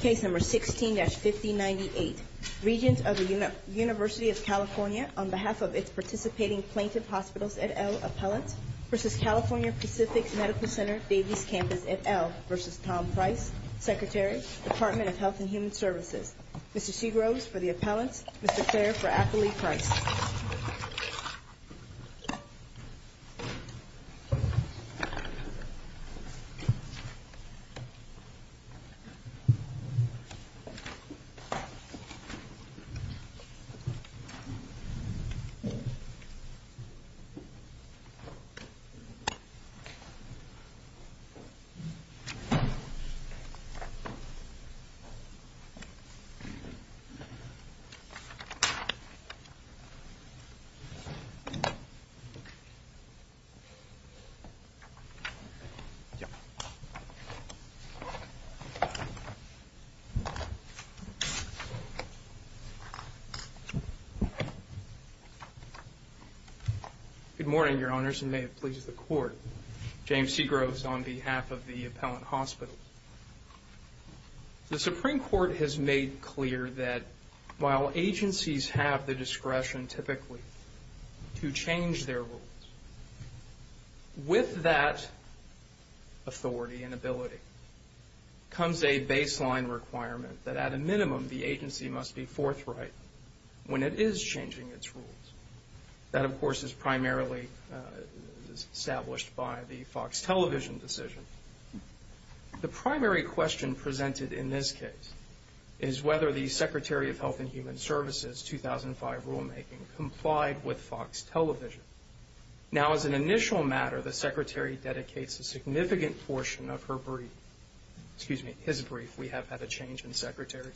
Case No. 16-5098. Regents of the University of California on behalf of its participating plaintiff hospitals et al. appellant v. California Pacific Medical Center Davis Campus et al. v. Tom Price, Secretary, Department of Health and Human Services Mr. Seagroves for the appellants, Mr. Claire for Affili Price Case No. 16-5098. Regents of the University of California on behalf of its participating plaintiffs Good morning, Your Honors, and may it please the Court. James Seagroves on behalf of the appellant hospitals. The Supreme Court has made clear that while agencies have the discretion typically to change their rules, with that authority and ability comes a baseline requirement that at a minimum the agency must be forthright when it is changing its rules. That, of course, is primarily established by the Fox Television decision. The primary question presented in this case is whether the Secretary of Health and Human Services' 2005 rulemaking complied with Fox Television. Now, as an initial matter, the Secretary dedicates a significant portion of her brief excuse me, his brief, we have had a change in Secretary,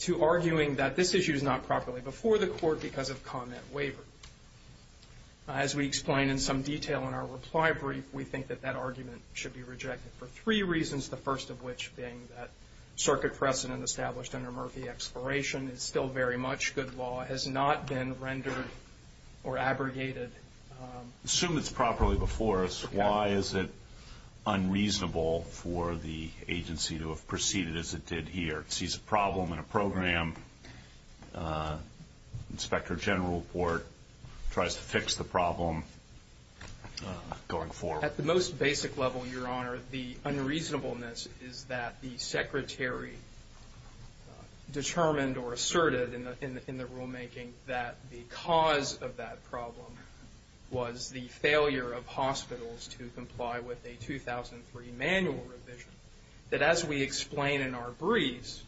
to arguing that this issue is not properly before the Court because of comment waiver. As we explain in some detail in our reply brief, we think that that argument should be rejected for three reasons, the first of which being that circuit precedent established under Murphy Exploration is still very much good law, has not been rendered or abrogated. Assume it's properly before us, why is it unreasonable for the agency to have proceeded as it did here? It sees a problem in a program, inspector general report, tries to fix the problem, going forward. At the most basic level, Your Honor, the unreasonableness is that the Secretary determined or asserted in the rulemaking that the cause of that problem was the failure of hospitals to comply with a 2003 manual revision. That as we explain in our briefs,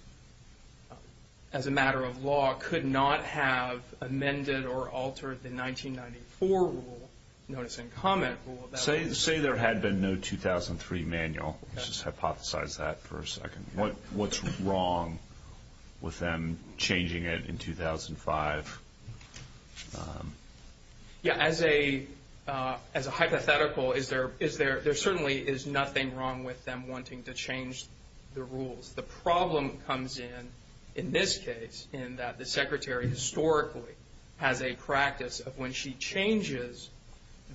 as a matter of law, could not have amended or altered the 1994 rule, notice and comment rule. Say there had been no 2003 manual, just hypothesize that for a second, what's wrong with them changing it in 2005? Yeah, as a hypothetical, there certainly is nothing wrong with them wanting to change the rules. The problem comes in, in this case, in that the Secretary historically has a practice of when she changes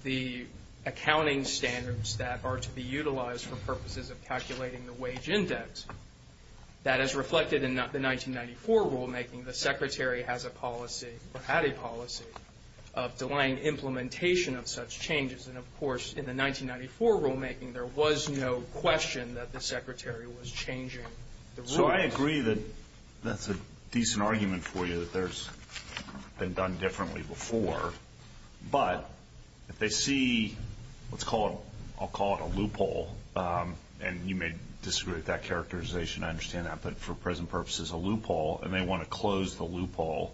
the accounting standards that are to be utilized for purposes of calculating the wage index, that is reflected in the 1994 rulemaking, the Secretary has a policy or had a policy of delaying implementation of such changes. And of course, in the 1994 rulemaking, there was no question that the Secretary was changing the rules. So I agree that that's a decent argument for you, that there's been done differently before, but if they see what's called, I'll call it a loophole, and you may disagree with that characterization, I understand that, but for present purposes, a loophole, and they want to close the loophole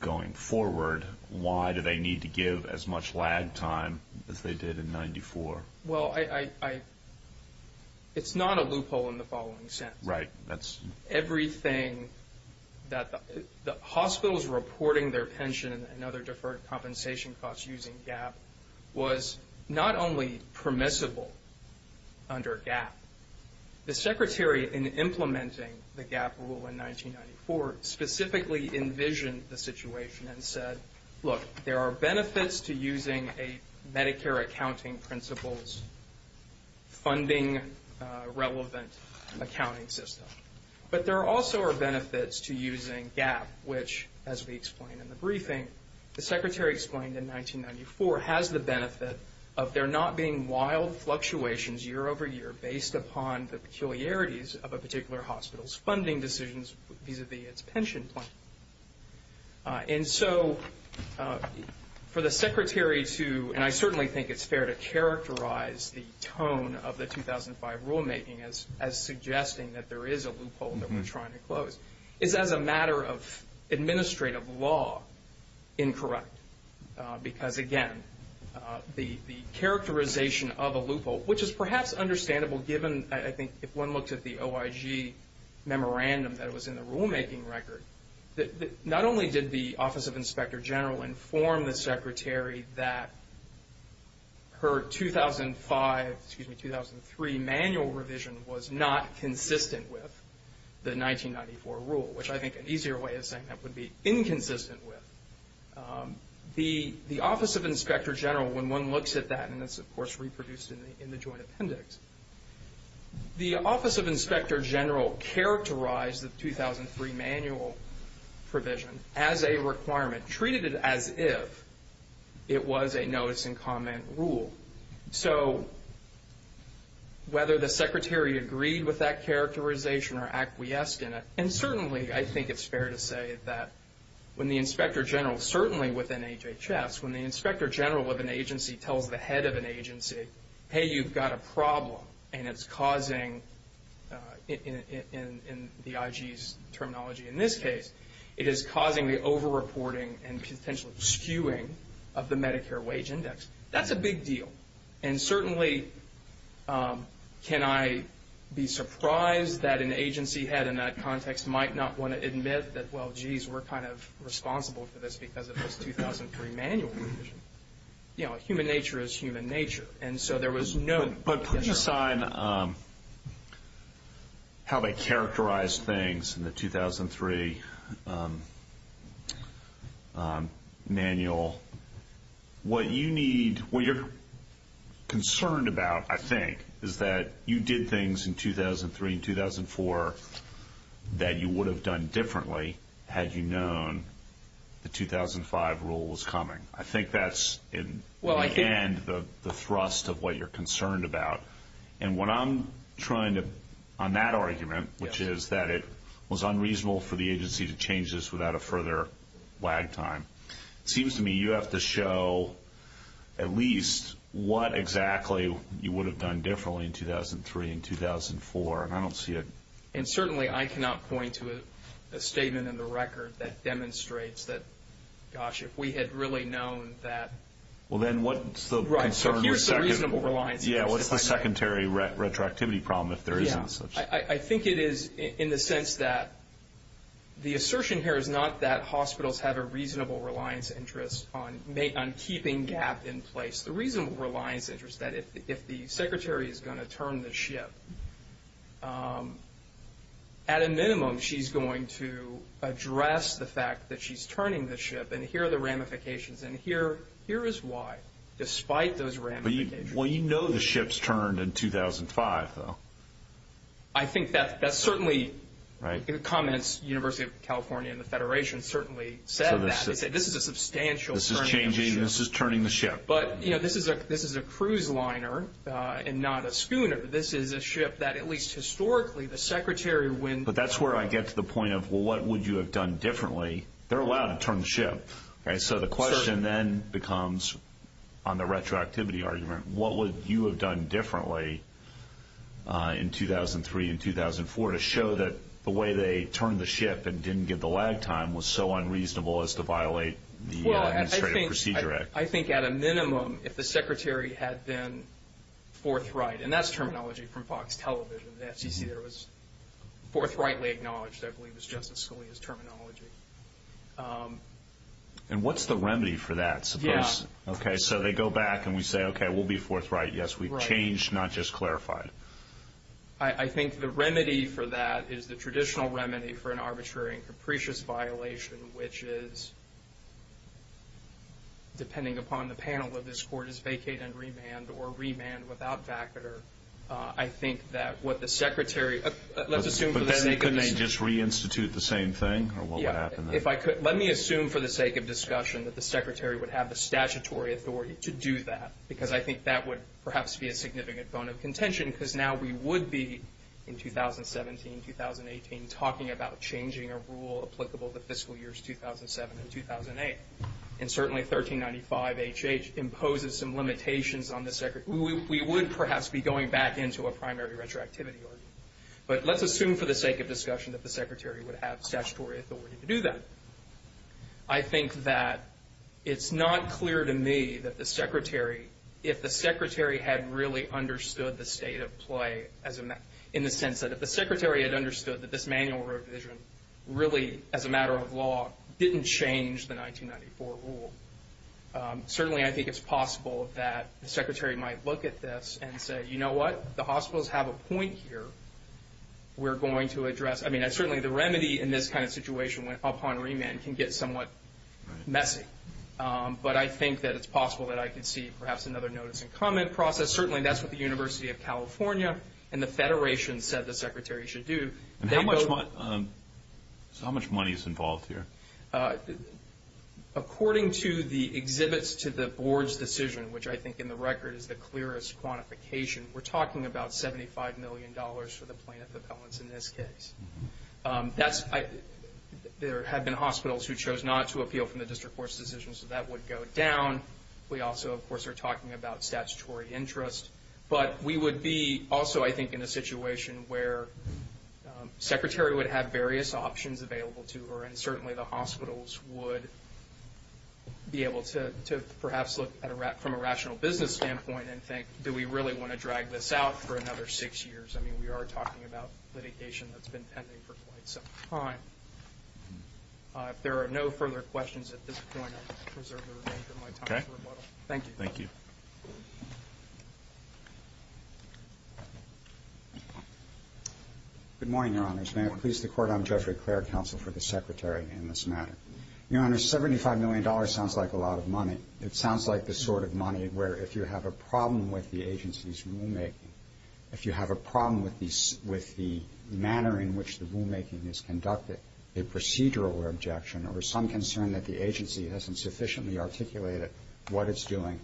going forward, why do they need to give as much lag time as they did in 1994? Well, it's not a loophole in the following sense. Right, that's... Everything that the hospitals reporting their pension and other deferred compensation costs using GAAP was not only permissible under GAAP, the Secretary in implementing the GAAP rule in 1994 specifically envisioned the situation and said, look, there are benefits to using a Medicare accounting principles funding relevant accounting system, but there also are benefits to using GAAP, which as we explained in the briefing, the Secretary explained in 1994 has the benefit of there not being wild fluctuations year over year based upon the peculiarities of a particular hospital's funding decisions vis-à-vis its pension plan. And so for the Secretary to, and I certainly think it's fair to characterize the tone of the 2005 rulemaking as suggesting that there is a loophole that we're trying to close, is as a matter of administrative law, incorrect. Because again, the characterization of a loophole, which is perhaps understandable given, I think, if one looked at the OIG memorandum that was in the rulemaking record, not only did the Office of Inspector General inform the Secretary that her 2005, excuse me, 2003 manual revision was not consistent with the 1994 rule, which I think an easier way of saying that would be inconsistent with. The Office of Inspector General, when one looks at that, and it's of course reproduced in the Joint Appendix, the Office of Inspector General characterized the 2003 manual provision as a requirement, treated it as if it was a notice and comment rule. So whether the Secretary agreed with that characterization or acquiesced in it, and certainly I think it's fair to say that when the Inspector General, certainly within HHS, when the Inspector General of an agency tells the head of an agency, hey, you've got a problem, and it's causing, in the IG's terminology in this case, it is causing the over-reporting and potential skewing of the Medicare wage index. That's a big deal. And certainly can I be surprised that an agency head in that context might not want to admit that, well, But putting aside how they characterized things in the 2003 manual, what you need, what you're concerned about, I think, is that you did things in 2003 and 2004 that you would have done differently had you known the 2005 rule was coming. I think that's, in the end, the thrust of what you're concerned about. And what I'm trying to, on that argument, which is that it was unreasonable for the agency to change this without a further lag time, it seems to me you have to show at least what exactly you would have done differently in 2003 and 2004, and I don't see it. And certainly I cannot point to a statement in the record that demonstrates that, gosh, if we had really known that. Well, then what's the concern? Right, so here's the reasonable reliance interest. Yeah, what's the secondary retroactivity problem if there isn't such? Yeah, I think it is in the sense that the assertion here is not that hospitals have a reasonable reliance interest on keeping GAP in place. It's the reasonable reliance interest that if the secretary is going to turn the ship, at a minimum she's going to address the fact that she's turning the ship, and here are the ramifications. And here is why, despite those ramifications. Well, you know the ship's turned in 2005, though. I think that's certainly, in the comments, the University of California and the Federation certainly said that. They said this is a substantial turning of the ship. This is changing, this is turning the ship. But, you know, this is a cruise liner and not a schooner. This is a ship that, at least historically, the secretary when- But that's where I get to the point of, well, what would you have done differently? They're allowed to turn the ship, right? So the question then becomes, on the retroactivity argument, what would you have done differently in 2003 and 2004 to show that the way they turned the ship and didn't give the lag time was so unreasonable as to violate the Administrative Procedure Act? I think at a minimum, if the secretary had been forthright, and that's terminology from Fox Television, the FCC there was forthrightly acknowledged, I believe it was Justice Scalia's terminology. And what's the remedy for that, suppose? Yeah. Okay, so they go back and we say, okay, we'll be forthright. Yes, we've changed, not just clarified. I think the remedy for that is the traditional remedy for an arbitrary and capricious violation, which is, depending upon the panel of this court, is vacate and remand or remand without vacater. I think that what the secretary- Let's assume for the sake of- But then they couldn't just reinstitute the same thing, or what would happen then? Yeah. Let me assume for the sake of discussion that the secretary would have the statutory authority to do that, because I think that would perhaps be a significant bone of contention, because now we would be, in 2017, 2018, talking about changing a rule applicable to fiscal years 2007 and 2008. And certainly 1395HH imposes some limitations on the secretary. We would perhaps be going back into a primary retroactivity argument. But let's assume for the sake of discussion that the secretary would have statutory authority to do that. I think that it's not clear to me that the secretary, if the secretary had really understood the state of play, in the sense that if the secretary had understood that this manual revision really, as a matter of law, didn't change the 1994 rule, certainly I think it's possible that the secretary might look at this and say, you know what, the hospitals have a point here. We're going to address. I mean, certainly the remedy in this kind of situation upon remand can get somewhat messy. But I think that it's possible that I could see perhaps another notice and comment process. Certainly that's what the University of California and the Federation said the secretary should do. How much money is involved here? According to the exhibits to the board's decision, which I think in the record is the clearest quantification, we're talking about $75 million for the plaintiff appellants in this case. There have been hospitals who chose not to appeal from the district court's decision, so that would go down. We also, of course, are talking about statutory interest. But we would be also, I think, in a situation where the secretary would have various options available to her, and certainly the hospitals would be able to perhaps look from a rational business standpoint and think, do we really want to drag this out for another six years? I mean, we are talking about litigation that's been pending for quite some time. If there are no further questions at this point, I'll preserve the remainder of my time for rebuttal. Thank you. Thank you. Good morning, Your Honors. May it please the Court, I'm Jeffrey Clair, counsel for the secretary in this matter. Your Honors, $75 million sounds like a lot of money. It sounds like the sort of money where if you have a problem with the agency's rulemaking, if you have a problem with the manner in which the rulemaking is conducted, a procedural objection or some concern that the agency hasn't sufficiently articulated what it's doing,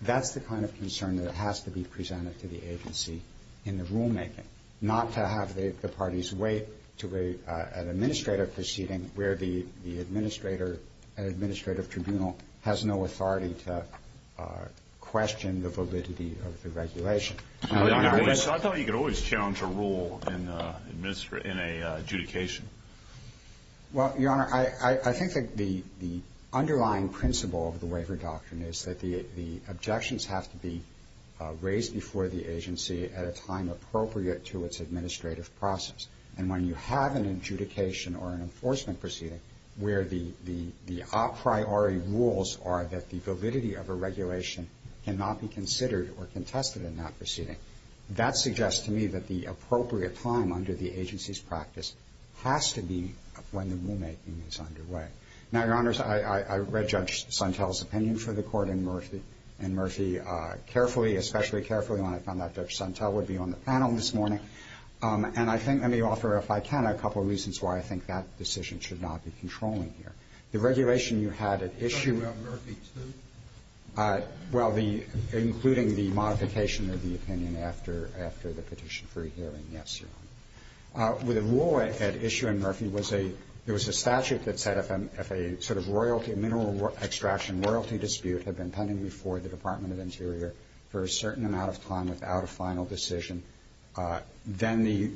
that's the kind of concern that has to be presented to the agency in the rulemaking, not to have the parties wait to an administrative proceeding where the administrator at an administrative tribunal has no authority to question the validity of the regulation. I thought you could always challenge a rule in an adjudication. Well, Your Honor, I think that the underlying principle of the waiver doctrine is that the objections have to be at a time appropriate to its administrative process, and when you have an adjudication or an enforcement proceeding where the a priori rules are that the validity of a regulation cannot be considered or contested in that proceeding, that suggests to me that the appropriate time under the agency's practice has to be when the rulemaking is underway. Now, Your Honors, I read Judge Suntell's opinion for the Court and Murphy carefully, especially carefully when I found out Judge Suntell would be on the panel this morning, and I think let me offer, if I can, a couple of reasons why I think that decision should not be controlling here. The regulation you had at issue at Murphy too? Well, including the modification of the opinion after the petition for a hearing, yes, Your Honor. With the rule at issue in Murphy, there was a statute that said if a sort of royalty, a mineral extraction royalty dispute had been pending before the Department of Interior for a certain amount of time without a final decision, then the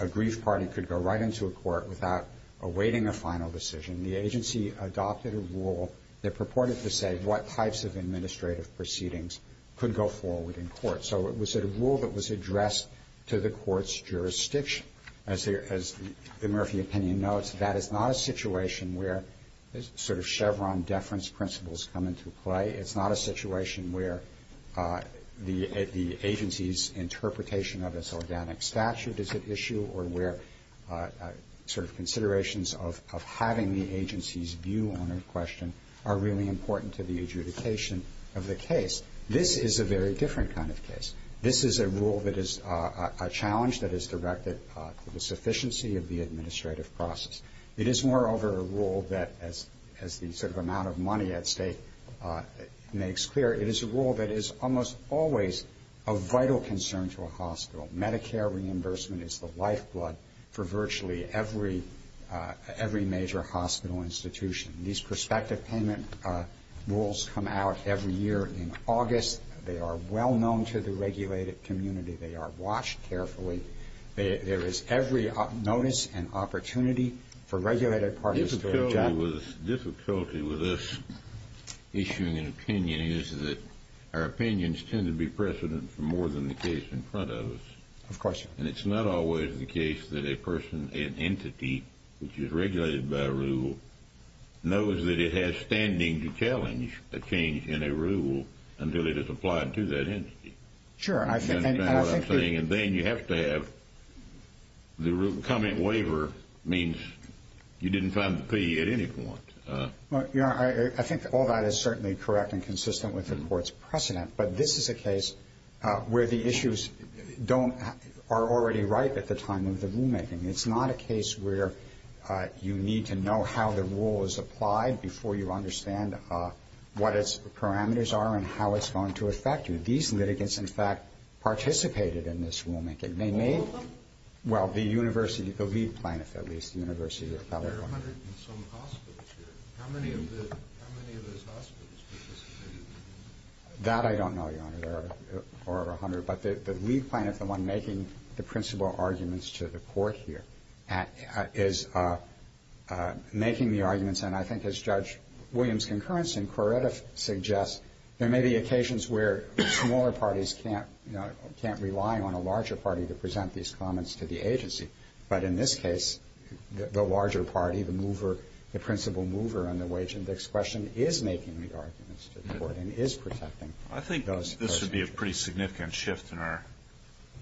aggrieved party could go right into a court without awaiting a final decision. The agency adopted a rule that purported to say what types of administrative proceedings could go forward in court. So it was a rule that was addressed to the Court's jurisdiction. As the Murphy opinion notes, that is not a situation where sort of Chevron deference principles come into play. It's not a situation where the agency's interpretation of its organic statute is at issue or where sort of considerations of having the agency's view on a question are really important to the adjudication of the case. This is a very different kind of case. This is a rule that is a challenge that is directed to the sufficiency of the administrative process. It is, moreover, a rule that, as the sort of amount of money at stake makes clear, it is a rule that is almost always a vital concern to a hospital. Medicare reimbursement is the lifeblood for virtually every major hospital institution. These prospective payment rules come out every year in August. They are well known to the regulated community. They are watched carefully. There is every notice and opportunity for regulated parties to object. Difficulty with us issuing an opinion is that our opinions tend to be precedent for more than the case in front of us. Of course. And it's not always the case that a person, an entity, which is regulated by a rule, knows that it has standing to challenge a change in a rule until it is applied to that entity. Sure. That's what I'm saying. And then you have to have the rule. A comment waiver means you didn't find the fee at any point. I think all that is certainly correct and consistent with the Court's precedent, but this is a case where the issues are already ripe at the time of the rulemaking. It's not a case where you need to know how the rule is applied before you understand what its parameters are and how it's going to affect you. These litigants, in fact, participated in this rulemaking. All of them? Well, the university, the lead plaintiff at least, the University of California. There are 100 and some hospitals here. How many of those hospitals participated? That I don't know, Your Honor, or 100. But the lead plaintiff, the one making the principal arguments to the Court here, is making the arguments. And I think, as Judge Williams' concurrence in Coretta suggests, there may be occasions where smaller parties can't rely on a larger party to present these comments to the agency. But in this case, the larger party, the mover, the principal mover on the wage index This would be a pretty significant shift in our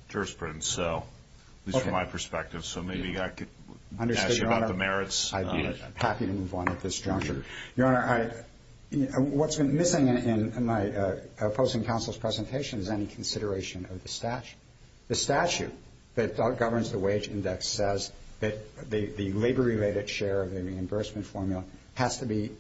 jurisprudence, at least from my perspective. So maybe I could ask you about the merits. I'd be happy to move on at this juncture. Your Honor, what's been missing in my opposing counsel's presentation is any consideration of the statute. The statute that governs the wage index says that the labor-related share of the reimbursement formula has to be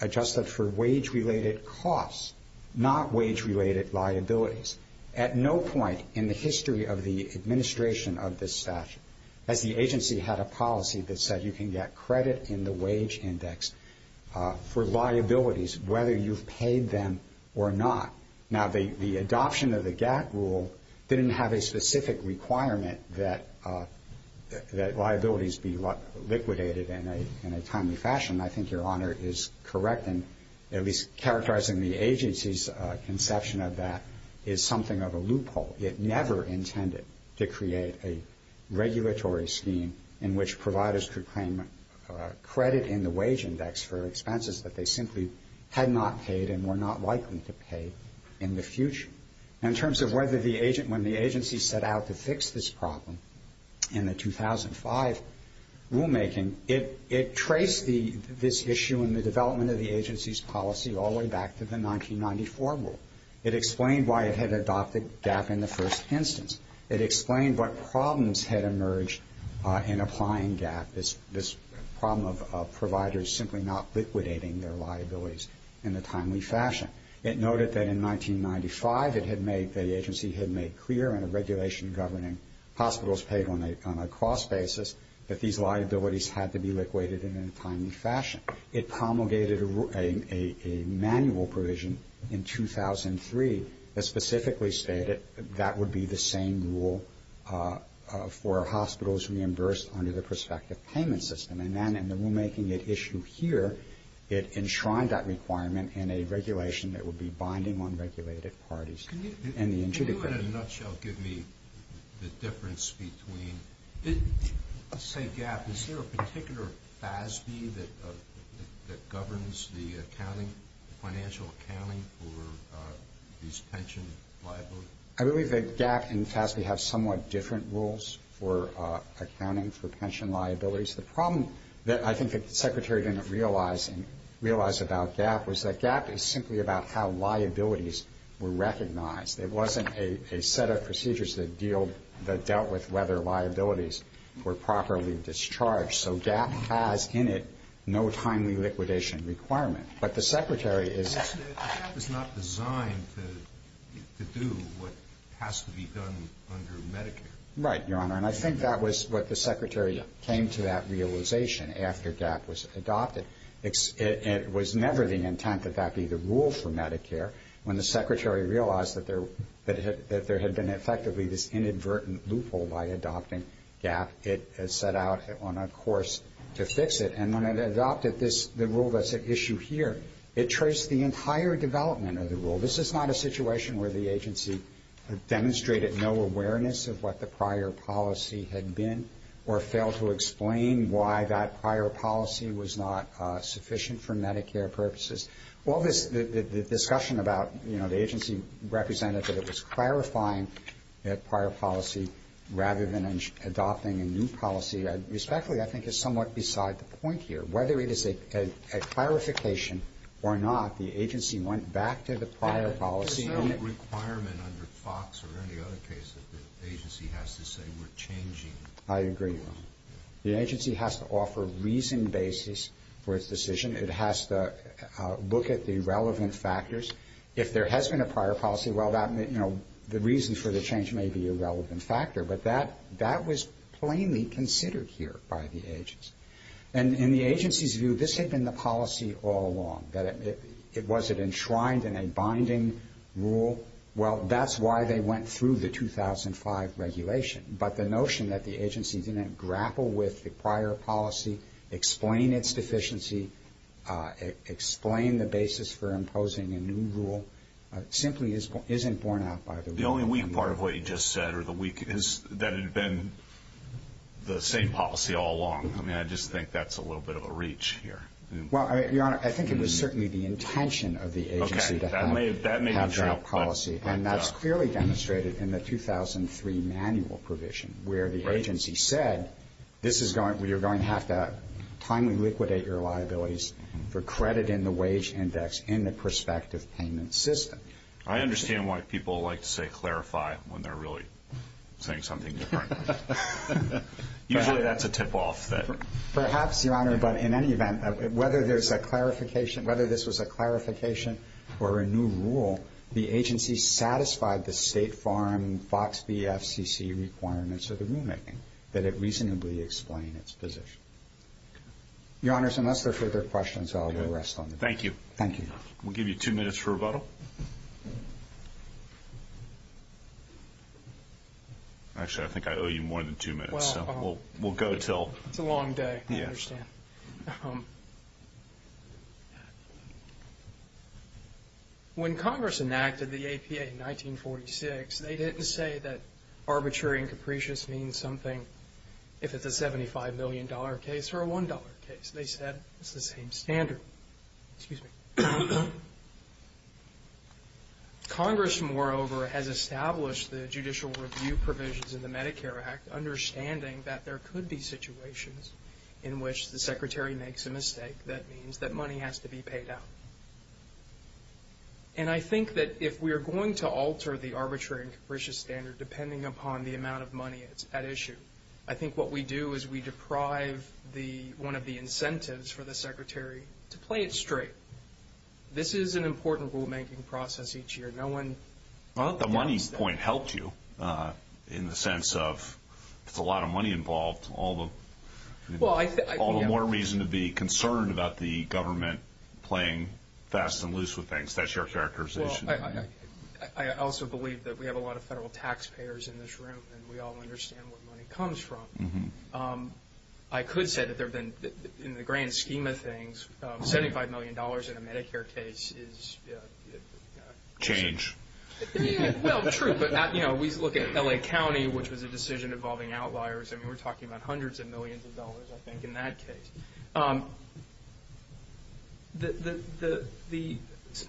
adjusted for wage-related costs, not wage-related liabilities. At no point in the history of the administration of this statute has the agency had a policy that said you can get credit in the wage index for liabilities, whether you've paid them or not. Now, the adoption of the GATT rule didn't have a specific requirement that liabilities be liquidated in a timely fashion. I think Your Honor is correct in at least characterizing the agency's conception of that is something of a loophole. It never intended to create a regulatory scheme in which providers could claim credit in the wage index for expenses that they simply had not paid and were not likely to pay in the future. In terms of when the agency set out to fix this problem in the 2005 rulemaking, it traced this issue in the development of the agency's policy all the way back to the 1994 rule. It explained why it had adopted GATT in the first instance. It explained what problems had emerged in applying GATT, this problem of providers simply not liquidating their liabilities in a timely fashion. It noted that in 1995 the agency had made clear in a regulation governing hospitals paid on a cross basis that these liabilities had to be liquidated in a timely fashion. It promulgated a manual provision in 2003 that specifically stated that would be the same rule for hospitals reimbursed under the prospective payment system. And then in the rulemaking at issue here, it enshrined that requirement in a regulation that would be binding on regulated parties. And the injunctive. Can you in a nutshell give me the difference between, let's say GATT, is there a particular FASB that governs the accounting, financial accounting for these pension liabilities? I believe that GATT and FASB have somewhat different rules for accounting for pension liabilities. The problem that I think the Secretary didn't realize about GATT was that GATT is simply about how liabilities were recognized. It wasn't a set of procedures that dealt with whether liabilities were properly discharged. So GATT has in it no timely liquidation requirement. But the Secretary is not designed to do what has to be done under Medicare. Right, Your Honor. And I think that was what the Secretary came to that realization after GATT was adopted. It was never the intent that that be the rule for Medicare. When the Secretary realized that there had been effectively this inadvertent loophole by adopting GATT, it set out on a course to fix it. And when it adopted the rule that's at issue here, it traced the entire development of the rule. This is not a situation where the agency demonstrated no awareness of what the prior policy had been or failed to explain why that prior policy was not sufficient for Medicare purposes. Well, the discussion about, you know, the agency representative was clarifying that prior policy rather than adopting a new policy, respectfully, I think is somewhat beside the point here. Whether it is a clarification or not, the agency went back to the prior policy. There's no requirement under FOX or any other case that the agency has to say we're changing. I agree, Your Honor. The agency has to offer reasoned basis for its decision. It has to look at the relevant factors. If there has been a prior policy, well, that, you know, the reason for the change may be a relevant factor. But that was plainly considered here by the agency. And in the agency's view, this had been the policy all along. Was it enshrined in a binding rule? Well, that's why they went through the 2005 regulation. But the notion that the agency didn't grapple with the prior policy, explain its deficiency, explain the basis for imposing a new rule simply isn't borne out by the rule. The only weak part of what you just said or the weak is that it had been the same policy all along. I mean, I just think that's a little bit of a reach here. Well, Your Honor, I think it was certainly the intention of the agency to have that policy. Okay, that may be true. And that's clearly demonstrated in the 2003 manual provision where the agency said this is going to be where you're going to have to timely liquidate your liabilities for credit in the wage index in the prospective payment system. I understand why people like to say clarify when they're really saying something different. Usually that's a tip off. Perhaps, Your Honor, but in any event, whether this was a clarification or a new rule, the agency satisfied the State Farm, FOXB, FCC requirements of the rulemaking, that it reasonably explained its position. Your Honors, unless there are further questions, I'll go rest on the bench. Thank you. Thank you. We'll give you two minutes for rebuttal. Actually, I think I owe you more than two minutes, so we'll go until... It's a long day. I understand. When Congress enacted the APA in 1946, they didn't say that arbitrary and capricious means something if it's a $75 million case or a $1 case. They said it's the same standard. Congress, moreover, has established the judicial review provisions in the Medicare Act, understanding that there could be situations in which the Secretary makes a mistake that means that money has to be paid out. And I think that if we are going to alter the arbitrary and capricious standard, depending upon the amount of money at issue, I think what we do is we deprive one of the incentives for the Secretary to play it straight. This is an important rulemaking process each year. I don't think the money point helped you in the sense of if there's a lot of money involved, all the more reason to be concerned about the government playing fast and loose with things. That's your characterization. I also believe that we have a lot of federal taxpayers in this room, and we all understand where money comes from. I could say that there have been, in the grand scheme of things, $75 million in a Medicare case. Change. Well, true, but we look at L.A. County, which was a decision involving outliers. I mean, we're talking about hundreds of millions of dollars, I think, in that case.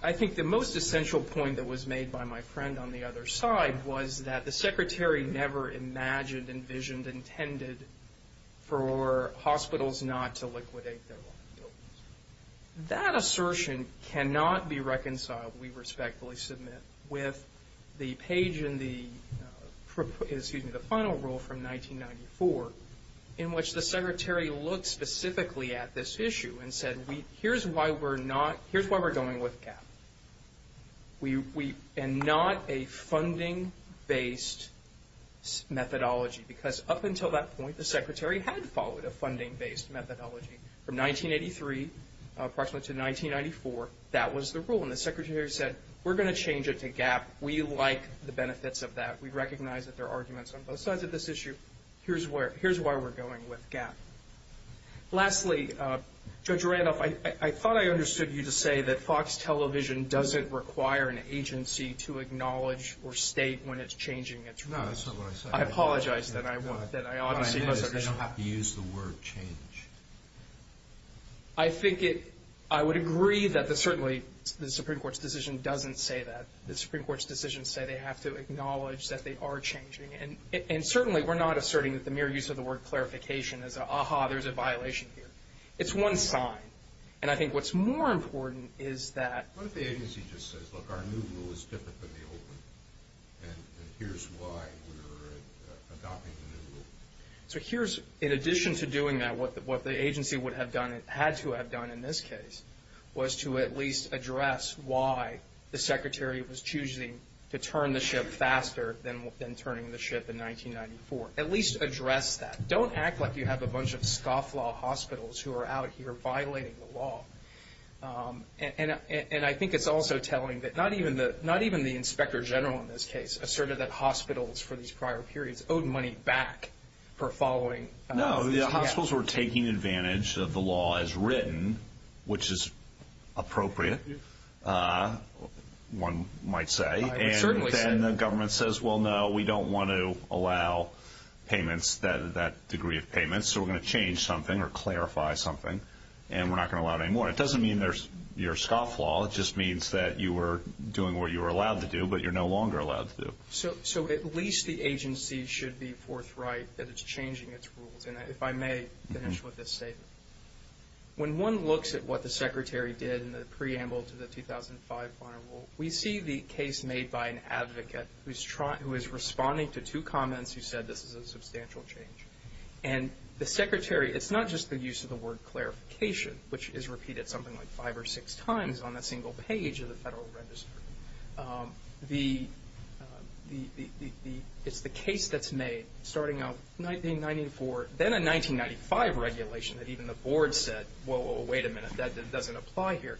I think the most essential point that was made by my friend on the other side was that the Secretary never imagined, envisioned, intended for hospitals not to liquidate their liabilities. That assertion cannot be reconciled, we respectfully submit, with the page in the final rule from 1994 in which the Secretary looked specifically at this issue and said, here's why we're going with GAAP, and not a funding-based methodology, because up until that point, the Secretary had followed a funding-based methodology. From 1983, approximately, to 1994, that was the rule. And the Secretary said, we're going to change it to GAAP. We like the benefits of that. We recognize that there are arguments on both sides of this issue. Here's why we're going with GAAP. Lastly, Judge Randolph, I thought I understood you to say that Fox Television doesn't require an agency to acknowledge or state when it's changing its rules. No, that's not what I said. I apologize, then, I obviously misunderstood. What I mean is they don't have to use the word change. I think I would agree that certainly the Supreme Court's decision doesn't say that. The Supreme Court's decisions say they have to acknowledge that they are changing. And certainly we're not asserting that the mere use of the word clarification is an ah-ha, there's a violation here. It's one sign. And I think what's more important is that. What if the agency just says, look, our new rule is different than the old one, and here's why we're adopting the new rule. So here's, in addition to doing that, what the agency would have done, had to have done in this case, was to at least address why the Secretary was choosing to turn the ship faster than turning the ship in 1994. At least address that. Don't act like you have a bunch of scofflaw hospitals who are out here violating the law. And I think it's also telling that not even the Inspector General in this case asserted that hospitals for these prior periods owed money back for following. No, the hospitals were taking advantage of the law as written, which is appropriate, one might say. I would certainly say. And then the government says, well, no, we don't want to allow payments, that degree of payments, so we're going to change something or clarify something, and we're not going to allow it anymore. It doesn't mean there's your scofflaw. It just means that you were doing what you were allowed to do, but you're no longer allowed to do. So at least the agency should be forthright that it's changing its rules. And if I may finish with this statement. When one looks at what the Secretary did in the preamble to the 2005 final rule, we see the case made by an advocate who is responding to two comments who said this is a substantial change. And the Secretary, it's not just the use of the word clarification, which is repeated something like five or six times on a single page of the Federal Register. It's the case that's made starting out 1994, then a 1995 regulation that even the Board said, whoa, whoa, wait a minute, that doesn't apply here.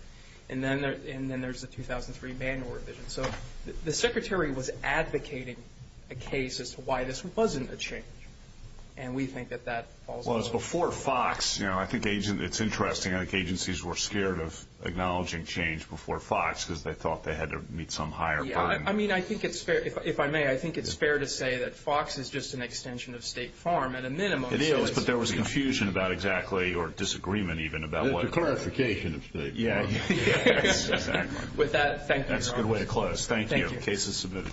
And then there's the 2003 manual revision. So the Secretary was advocating a case as to why this wasn't a change, and we think that that falls under that. Well, it's before FOX. You know, I think it's interesting. I think agencies were scared of acknowledging change before FOX because they thought they had to meet some higher burden. Yeah, I mean, I think it's fair, if I may, I think it's fair to say that FOX is just an extension of State Farm at a minimum. It is, but there was confusion about exactly, or disagreement even about what. The clarification of State Farm. Yeah, exactly. With that, thank you. That's a good way to close. Thank you. Case is submitted.